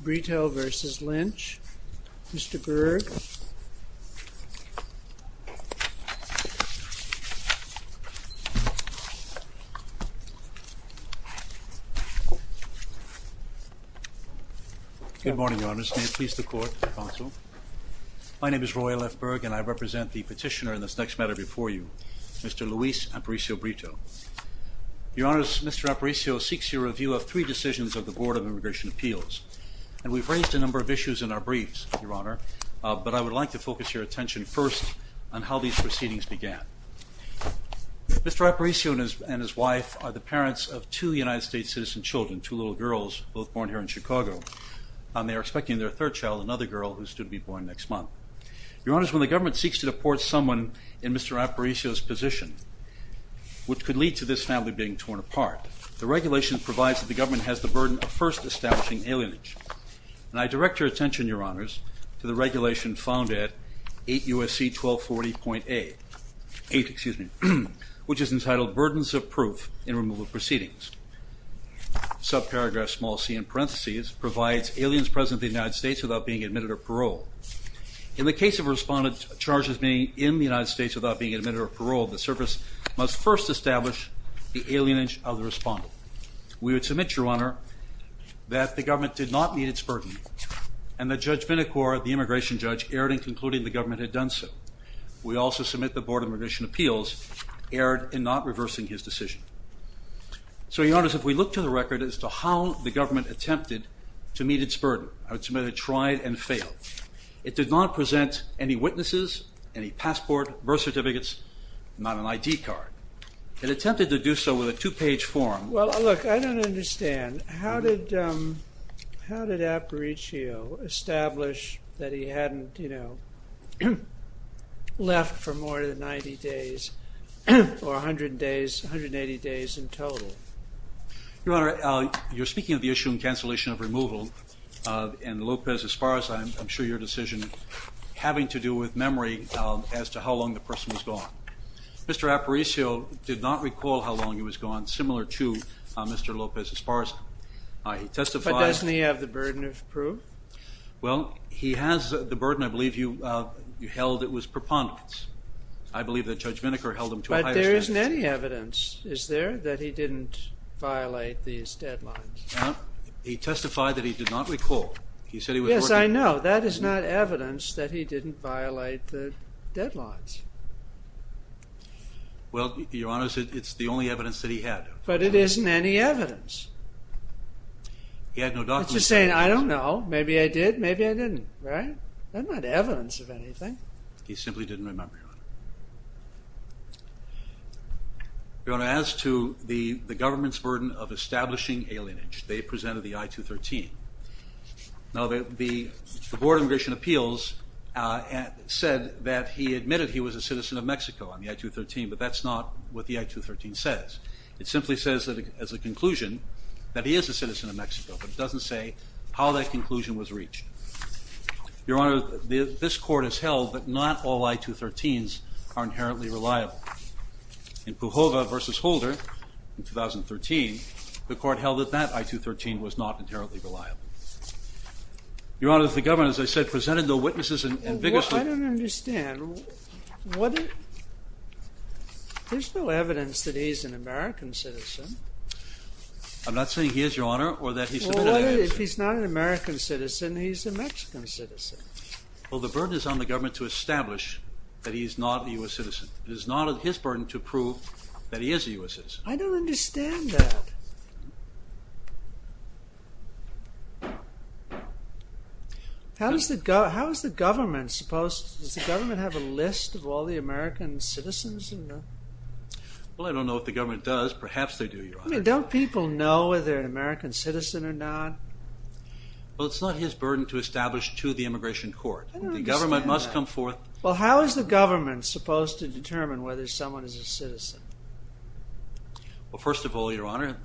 Aparicio-Brito v. Lynch. Mr. Berg. Good morning, Your Honors. May it please the Court, Counsel. My name is Roy L. Berg, and I represent the petitioner in this next matter before you, Mr. Luis Aparicio-Brito. Your Honors, Mr. Aparicio seeks your review of three decisions of the Board of Immigration Appeals. And we've raised a number of issues in our briefs, Your Honor, but I would like to focus your attention first on how these proceedings began. Mr. Aparicio and his wife are the parents of two United States citizen children, two little girls, both born here in Chicago. And they are expecting their third child, another girl, who is due to be born next month. Your Honors, when the government seeks to deport someone in Mr. Aparicio's position, which could lead to this family being torn apart, the regulation provides that the government has the burden of first establishing alienage. And I direct your attention, Your Honors, to the regulation found at 8 U.S.C. 1240.8, which is entitled Burdens of Proof in Removal Proceedings. Subparagraph small c in parentheses provides aliens present in the United States without being admitted or paroled. In the case of a respondent charged as being in the United States without being admitted or paroled, the service must first establish the alienage of the respondent. We would submit, Your Honor, that the government did not meet its burden and that Judge Vinicor, the immigration judge, erred in concluding the government had done so. We also submit that the Board of Immigration Appeals erred in not reversing his decision. So, Your Honors, if we look to the record as to how the government attempted to meet its burden, I would submit it tried and failed. It did not present any witnesses, any passport, birth certificates, not an ID card. It attempted to do so with a two-page form. Well, look, I don't understand. How did Aparicio establish that he hadn't, you know, left for more than 90 days or 100 days, 180 days in total? Your Honor, you're speaking of the issue in cancellation of removal, and Lopez, as far as I'm sure your decision, having to do with memory as to how long the person was gone. Mr. Aparicio did not recall how long he was gone, similar to Mr. Lopez, as far as I testified. But doesn't he have the burden of proof? Well, he has the burden. I believe you held it was preponderance. I believe that Judge Vinicor held him to a higher standard. But there isn't any evidence, is there, that he didn't violate these deadlines? Well, he testified that he did not recall. Yes, I know. Now, that is not evidence that he didn't violate the deadlines. Well, Your Honor, it's the only evidence that he had. But it isn't any evidence. He had no documents. I'm just saying, I don't know. Maybe I did, maybe I didn't, right? That's not evidence of anything. He simply didn't remember, Your Honor. Your Honor, as to the government's burden of establishing alienage, they presented the I-213. Now, the Board of Immigration Appeals said that he admitted he was a citizen of Mexico on the I-213, but that's not what the I-213 says. It simply says as a conclusion that he is a citizen of Mexico, but it doesn't say how that conclusion was reached. Your Honor, this Court has held that not all I-213s are inherently reliable. In Pujola v. Holder in 2013, the Court held that that I-213 was not inherently reliable. Your Honor, the government, as I said, presented no witnesses and vigorously. I don't understand. There's no evidence that he's an American citizen. I'm not saying he is, Your Honor, or that he's not an American citizen. Well, if he's not an American citizen, he's a Mexican citizen. Well, the burden is on the government to establish that he is not a U.S. citizen. It is not his burden to prove that he is a U.S. citizen. I don't understand that. How is the government supposed—does the government have a list of all the American citizens? Well, I don't know what the government does. Perhaps they do, Your Honor. I mean, don't people know whether they're an American citizen or not? Well, it's not his burden to establish to the immigration court. I don't understand that. The government must come forth. Well, how is the government supposed to determine whether someone is a citizen? Well, first of all, Your Honor,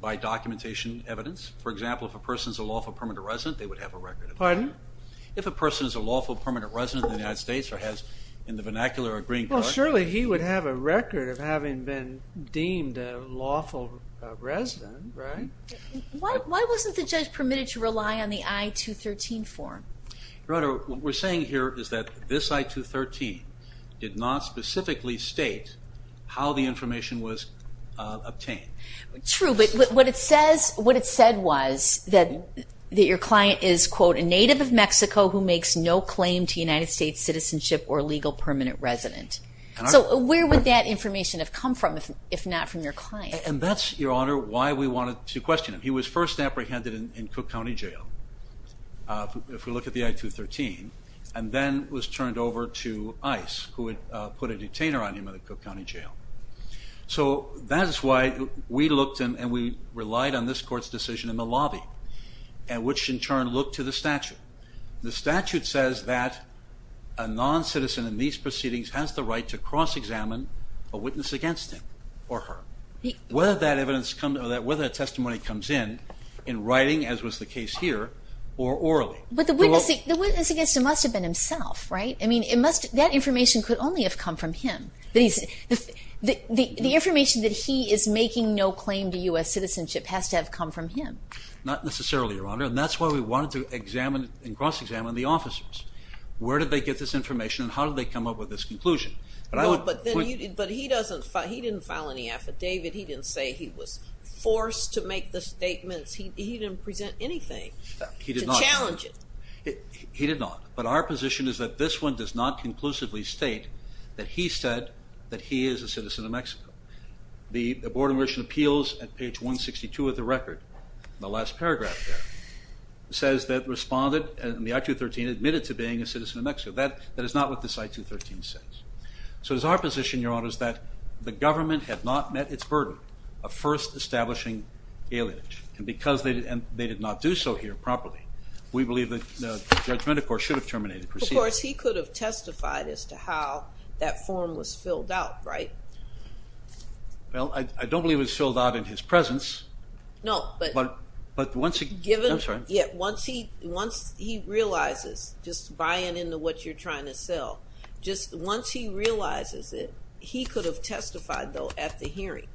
by documentation evidence. For example, if a person is a lawful permanent resident, they would have a record. Pardon? If a person is a lawful permanent resident in the United States or has, in the vernacular, a green card— Well, surely he would have a record of having been deemed a lawful resident, right? Why wasn't the judge permitted to rely on the I-213 form? Your Honor, what we're saying here is that this I-213 did not specifically state how the information was obtained. True, but what it said was that your client is, quote, a native of Mexico who makes no claim to United States citizenship or legal permanent resident. So where would that information have come from if not from your client? And that's, Your Honor, why we wanted to question him. He was first apprehended in Cook County Jail, if we look at the I-213, and then was turned over to ICE, who had put a detainer on him in the Cook County Jail. So that is why we looked and we relied on this court's decision in the lobby, which in turn looked to the statute. The statute says that a noncitizen in these proceedings has the right to cross-examine a witness against him or her. Whether that testimony comes in in writing, as was the case here, or orally. But the witness against him must have been himself, right? I mean, that information could only have come from him. The information that he is making no claim to U.S. citizenship has to have come from him. Not necessarily, Your Honor, and that's why we wanted to examine and cross-examine the officers. Where did they get this information and how did they come up with this conclusion? But he didn't file any affidavit. He didn't say he was forced to make the statements. He didn't present anything to challenge it. He did not, but our position is that this one does not conclusively state that he said that he is a citizen of Mexico. The Board of Commission Appeals at page 162 of the record, the last paragraph there, says that responded and the I-213 admitted to being a citizen of Mexico. That is not what this I-213 says. So it is our position, Your Honor, that the government had not met its burden of first establishing aliage. And because they did not do so here properly, we believe that the judgment, of course, should have terminated the proceedings. Of course, he could have testified as to how that form was filled out, right? Well, I don't believe it was filled out in his presence. No, but once he realizes, just buying into what you're trying to sell, just once he realizes it, he could have testified, though, at the hearing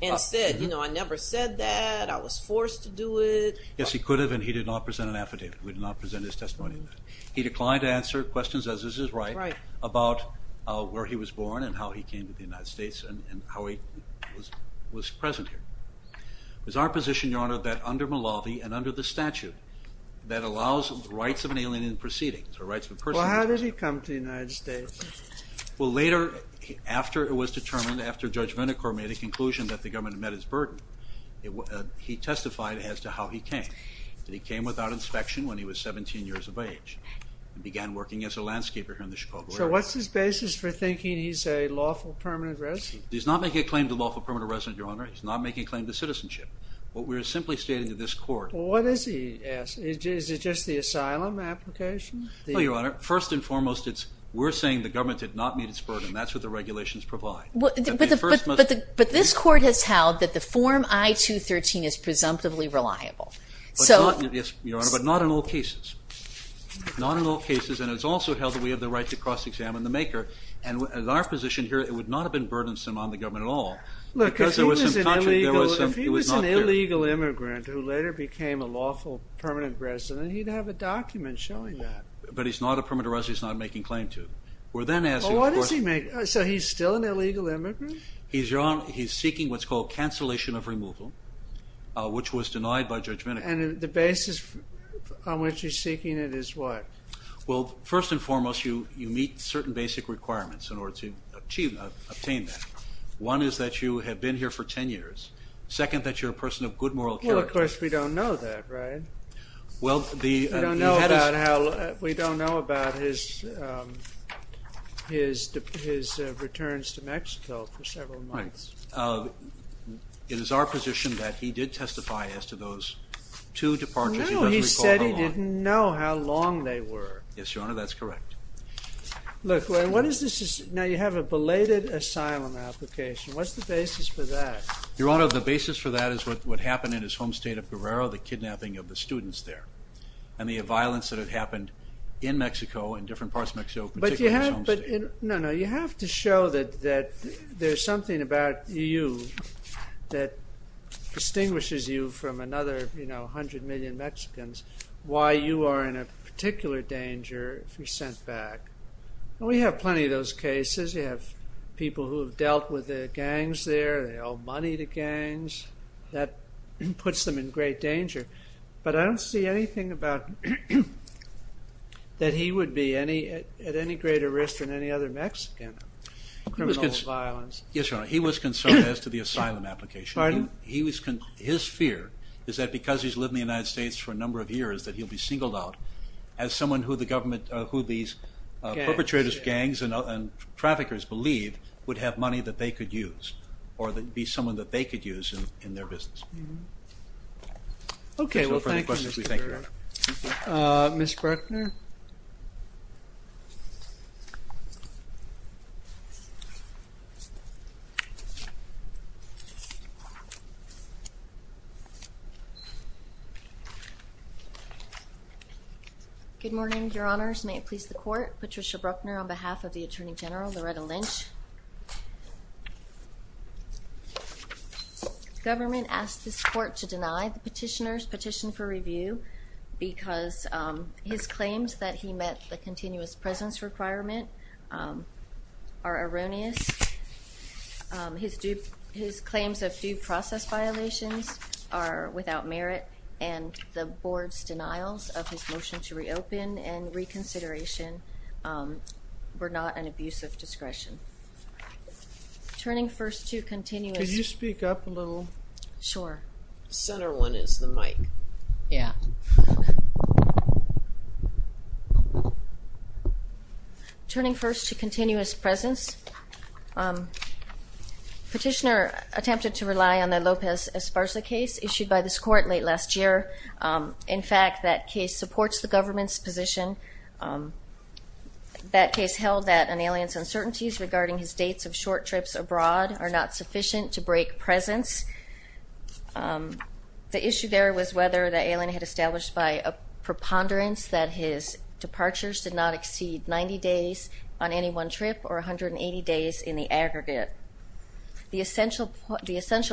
and said, you know, I never said that, I was forced to do it. Yes, he could have, and he did not present an affidavit. He did not present his testimony. He declined to answer questions, as is his right, about where he was born and how he came to the United States and how he was present here. It was our position, Your Honor, that under Malawi and under the statute that allows rights of an alien in proceedings, or rights of a person in proceedings. Well, how did he come to the United States? Well, later, after it was determined, after Judge Vinicor made a conclusion that the government had met its burden, he testified as to how he came. That he came without inspection when he was 17 years of age. He began working as a landscaper here in the Chicago area. So what's his basis for thinking he's a lawful permanent resident? He's not making a claim to lawful permanent resident, Your Honor. He's not making a claim to citizenship. What we're simply stating to this court. Well, what is he asking? Is it just the asylum application? No, Your Honor. First and foremost, we're saying the government did not meet its burden. That's what the regulations provide. But this court has held that the Form I-213 is presumptively reliable. Yes, Your Honor, but not in all cases. Not in all cases. And it's also held that we have the right to cross-examine the maker. And in our position here, it would not have been burdensome on the government at all. Look, if he was an illegal immigrant who later became a lawful permanent resident, he'd have a document showing that. But he's not a permanent resident. He's not making a claim to. Well, what is he making? So he's still an illegal immigrant? He's seeking what's called cancellation of removal, which was denied by Judge Vinicor. And the basis on which he's seeking it is what? Well, first and foremost, you meet certain basic requirements in order to obtain that. One is that you have been here for 10 years. Second, that you're a person of good moral character. Well, of course, we don't know that, right? Well, the head is— We don't know about his returns to Mexico for several months. It is our position that he did testify as to those two departures. He doesn't recall how long. No, he said he didn't know how long they were. Yes, Your Honor, that's correct. Look, what is this—now, you have a belated asylum application. What's the basis for that? Your Honor, the basis for that is what happened in his home state of Guerrero, the kidnapping of the students there, and the violence that had happened in Mexico, in different parts of Mexico, particularly his home state. No, no, you have to show that there's something about you that distinguishes you from another, you know, 100 million Mexicans, why you are in a particular danger if you're sent back. We have plenty of those cases. You have people who have dealt with the gangs there. They owe money to gangs. That puts them in great danger. But I don't see anything about that he would be at any greater risk than any other Mexican of criminal violence. Yes, Your Honor, he was concerned as to the asylum application. Pardon? His fear is that because he's lived in the United States for a number of years that he'll be singled out as someone who the government, who these perpetrators, gangs, and traffickers believe would have money that they could use or be someone that they could use in their business. Okay, well, thank you, Mr. Bruckner. Ms. Bruckner? Good morning, Your Honors. May it please the Court, Patricia Bruckner on behalf of the Attorney General, Loretta Lynch. The government asked this Court to deny the petitioner's petition for review because his claims that he met the continuous presence requirement are erroneous. His claims of due process violations are without merit, and the Board's denials of his motion to reopen and reconsideration were not an abuse of discretion. Turning first to continuous... Could you speak up a little? Sure. The center one is the mic. Yeah. Turning first to continuous presence, petitioner attempted to rely on the Lopez Esparza case issued by this Court late last year. In fact, that case supports the government's position. That case held that an alien's uncertainties regarding his dates of short trips abroad are not sufficient to break presence. The issue there was whether the alien had established by a preponderance that his departures did not exceed 90 days on any one trip or 180 days in the aggregate. The essential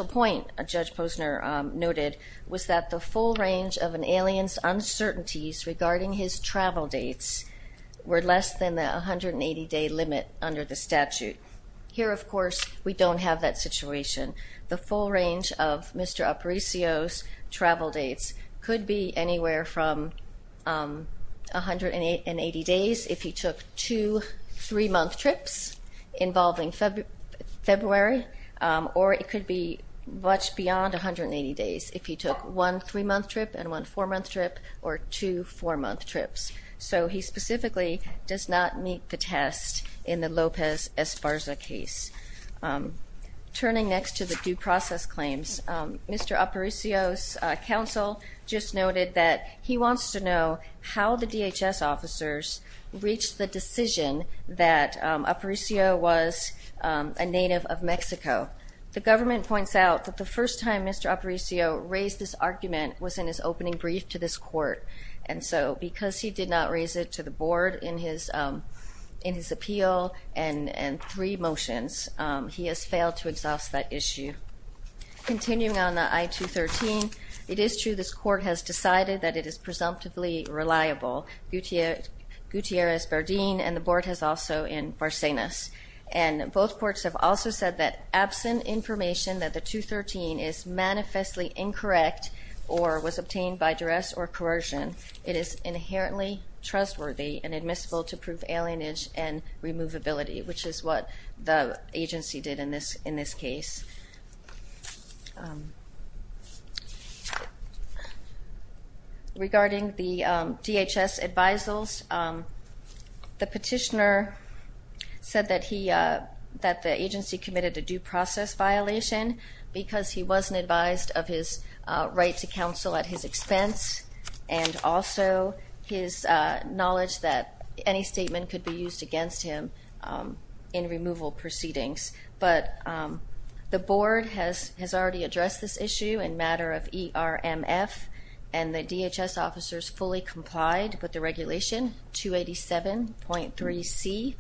point, Judge Posner noted, was that the full range of an alien's uncertainties regarding his travel dates were less than the 180-day limit under the statute. Here, of course, we don't have that situation. The full range of Mr. Aparicio's travel dates could be anywhere from 180 days if he took two 3-month trips involving February, or it could be much beyond 180 days if he took one 3-month trip and one 4-month trip or two 4-month trips. So he specifically does not meet the test in the Lopez Esparza case. Turning next to the due process claims, Mr. Aparicio's counsel just noted that he wants to know how the DHS officers reached the decision that Aparicio was a native of Mexico. The government points out that the first time Mr. Aparicio raised this argument was in his opening brief to this court. And so because he did not raise it to the board in his appeal and three motions, he has failed to exhaust that issue. Continuing on the I-213, it is true this court has decided that it is presumptively reliable, Gutierrez-Bardin, and the board has also in Barsenas. And both courts have also said that, absent information that the I-213 is manifestly incorrect or was obtained by duress or coercion, it is inherently trustworthy and admissible to prove alienage and removability, which is what the agency did in this case. Regarding the DHS advisals, the petitioner said that the agency committed a due process violation because he wasn't advised of his right to counsel at his expense and also his knowledge that any statement could be used against him in removal proceedings. But the board has already addressed this issue in matter of ERMF, and the DHS officers fully complied with the regulation 287.3c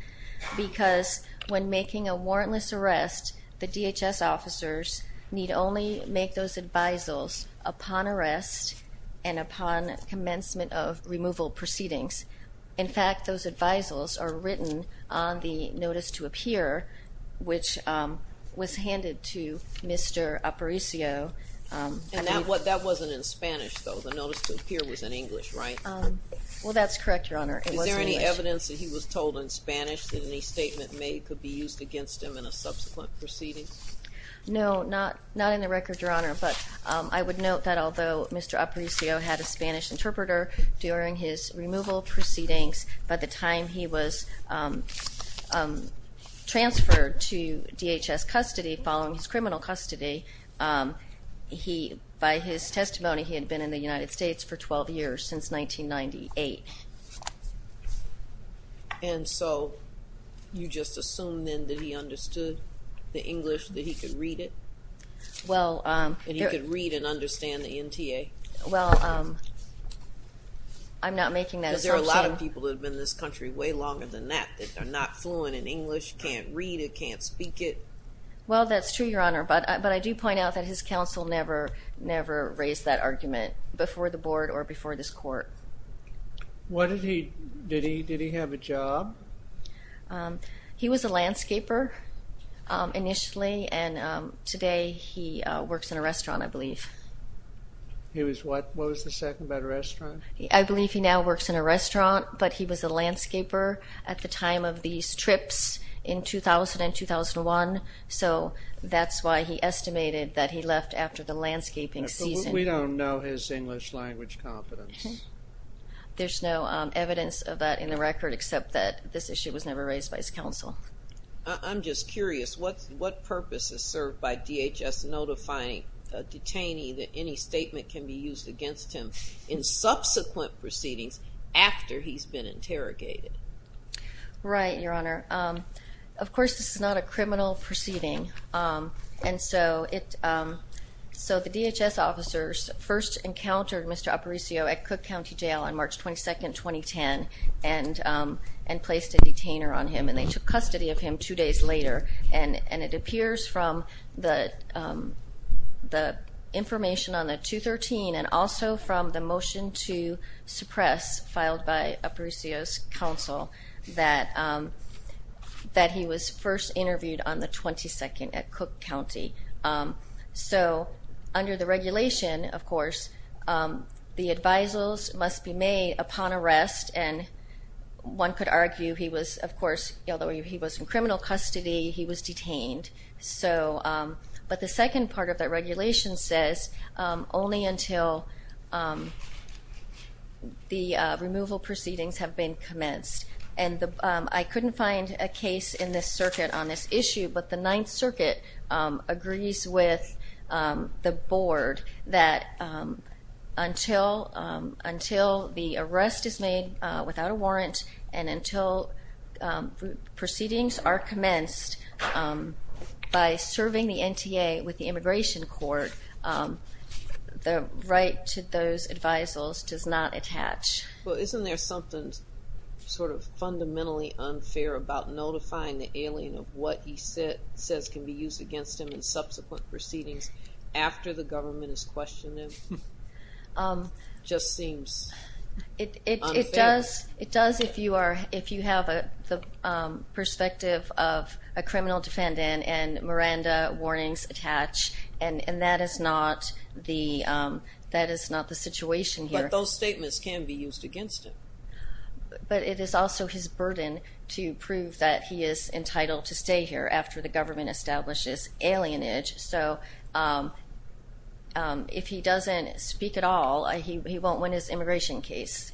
because when making a warrantless arrest, the DHS officers need only make those advisals upon arrest and upon commencement of removal proceedings. In fact, those advisals are written on the notice to appear, which was handed to Mr. Aparicio. And that wasn't in Spanish, though. The notice to appear was in English, right? Well, that's correct, Your Honor. Is there any evidence that he was told in Spanish that any statement made could be used against him in a subsequent proceeding? No, not in the record, Your Honor. But I would note that although Mr. Aparicio had a Spanish interpreter during his removal proceedings, by the time he was transferred to DHS custody, following his criminal custody, by his testimony he had been in the United States for 12 years, since 1998. And so you just assume then that he understood the English, that he could read it? And he could read and understand the NTA? Well, I'm not making that assumption. Because there are a lot of people who have been in this country way longer than that that are not fluent in English, can't read it, can't speak it. Well, that's true, Your Honor. But I do point out that his counsel never raised that argument before the board or before this court. Did he have a job? He was a landscaper initially, and today he works in a restaurant, I believe. He was what? What was the second, by the restaurant? I believe he now works in a restaurant, but he was a landscaper at the time of these trips in 2000 and 2001, so that's why he estimated that he left after the landscaping season. But we don't know his English language competence. There's no evidence of that in the record, except that this issue was never raised by his counsel. I'm just curious. What purpose is served by DHS notifying a detainee that any statement can be used against him in subsequent proceedings after he's been interrogated? Right, Your Honor. Of course, this is not a criminal proceeding. And so the DHS officers first encountered Mr. Aparicio at Cook County Jail on March 22, 2010, and placed a detainer on him, and they took custody of him two days later. And it appears from the information on the 213 and also from the motion to suppress filed by Aparicio's counsel that he was first interviewed on the 22nd at Cook County. So under the regulation, of course, the advisals must be made upon arrest, and one could argue he was, of course, although he was in criminal custody, he was detained. But the second part of that regulation says only until the removal proceedings have been commenced. And I couldn't find a case in this circuit on this issue, but the Ninth Circuit agrees with the Board that until the arrest is made without a warrant and until proceedings are commenced by serving the NTA with the Immigration Court, the right to those advisals does not attach. Well, isn't there something sort of fundamentally unfair about notifying the alien of what he says can be used against him in subsequent proceedings after the government has questioned him? It just seems unfair. It does if you have the perspective of a criminal defendant and Miranda warnings attach, and that is not the situation here. But those statements can be used against him. But it is also his burden to prove that he is entitled to stay here after the government establishes alienage. So if he doesn't speak at all, he won't win his immigration case.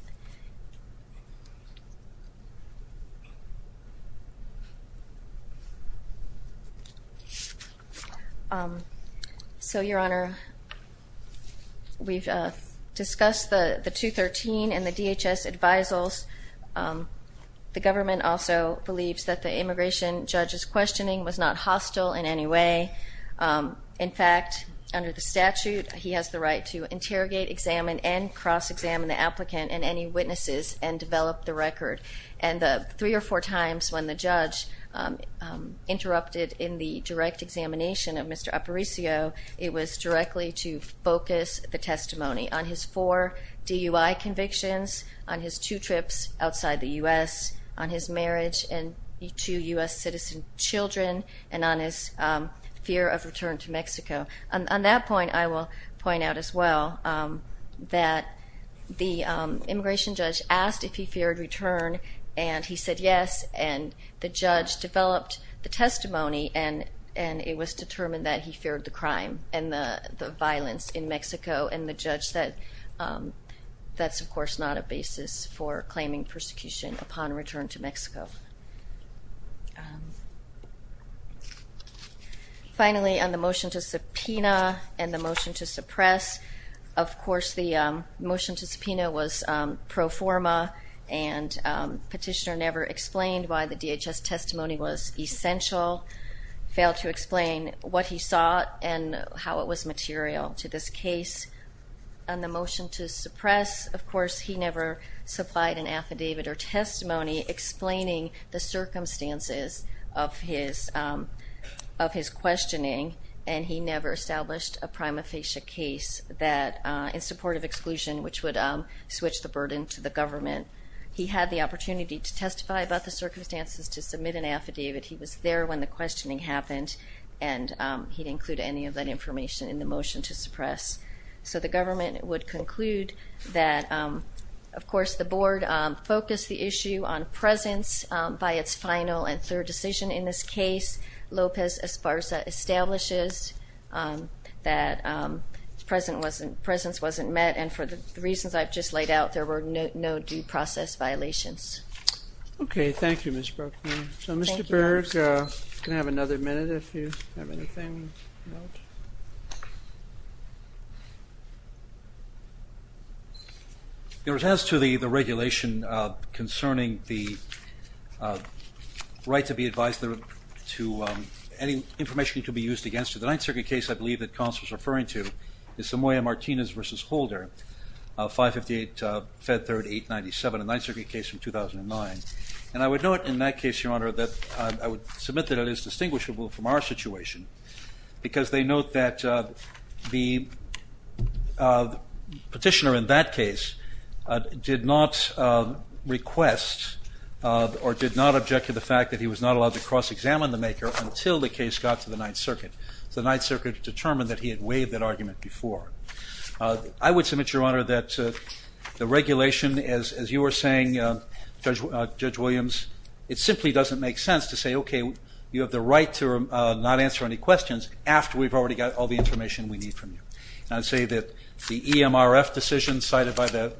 So, Your Honor, we've discussed the 213 and the DHS advisals. The government also believes that the immigration judge's questioning was not hostile in any way. In fact, under the statute, he has the right to interrogate, examine, and cross-examine the applicant and any witnesses and develop the record. And the three or four times when the judge interrupted in the direct examination of Mr. Aparicio, it was directly to focus the testimony on his four DUI convictions, on his two trips outside the U.S., on his marriage and the two U.S. citizen children, and on his fear of return to Mexico. On that point, I will point out as well that the immigration judge asked if he feared return, and he said yes. And the judge developed the testimony, and it was determined that he feared the crime and the violence in Mexico. And the judge said that's, of course, not a basis for claiming persecution upon return to Mexico. Finally, on the motion to subpoena and the motion to suppress, of course, the motion to subpoena was pro forma, and Petitioner never explained why the DHS testimony was essential, failed to explain what he saw and how it was material to this case. And on the motion to suppress, of course, he never supplied an affidavit or testimony explaining the circumstances of his questioning, and he never established a prima facie case in support of exclusion, which would switch the burden to the government. He had the opportunity to testify about the circumstances, to submit an affidavit. He was there when the questioning happened, and he didn't include any of that information in the motion to suppress. So the government would conclude that, of course, the board focused the issue on presence by its final and third decision in this case. Lopez Esparza establishes that presence wasn't met, and for the reasons I've just laid out, there were no due process violations. Okay, thank you, Ms. Bruckner. So, Mr. Berg, you can have another minute if you have anything to note. As to the regulation concerning the right to be advised to any information that could be used against you, the Ninth Circuit case I believe that Constance was referring to is Samoya-Martinez v. Holder, 558 Fed 3rd 897, a Ninth Circuit case from 2009. And I would note in that case, Your Honor, that I would submit that it is distinguishable from our situation because they note that the petitioner in that case did not request or did not object to the fact that he was not allowed to cross-examine the maker until the case got to the Ninth Circuit. The Ninth Circuit determined that he had waived that argument before. I would submit, Your Honor, that the regulation, as you were saying, Judge Williams, it simply doesn't make sense to say, okay, you have the right to not answer any questions after we've already got all the information we need from you. And I'd say that the EMRF decision cited by the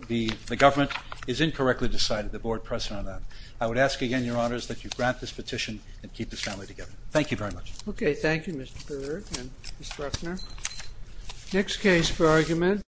government is incorrectly decided, the Board pressing on that. I would ask again, Your Honors, that you grant this petition and keep this family together. Thank you very much. Okay, thank you, Mr. Berg and Ms. Bruckner. Next case for argument.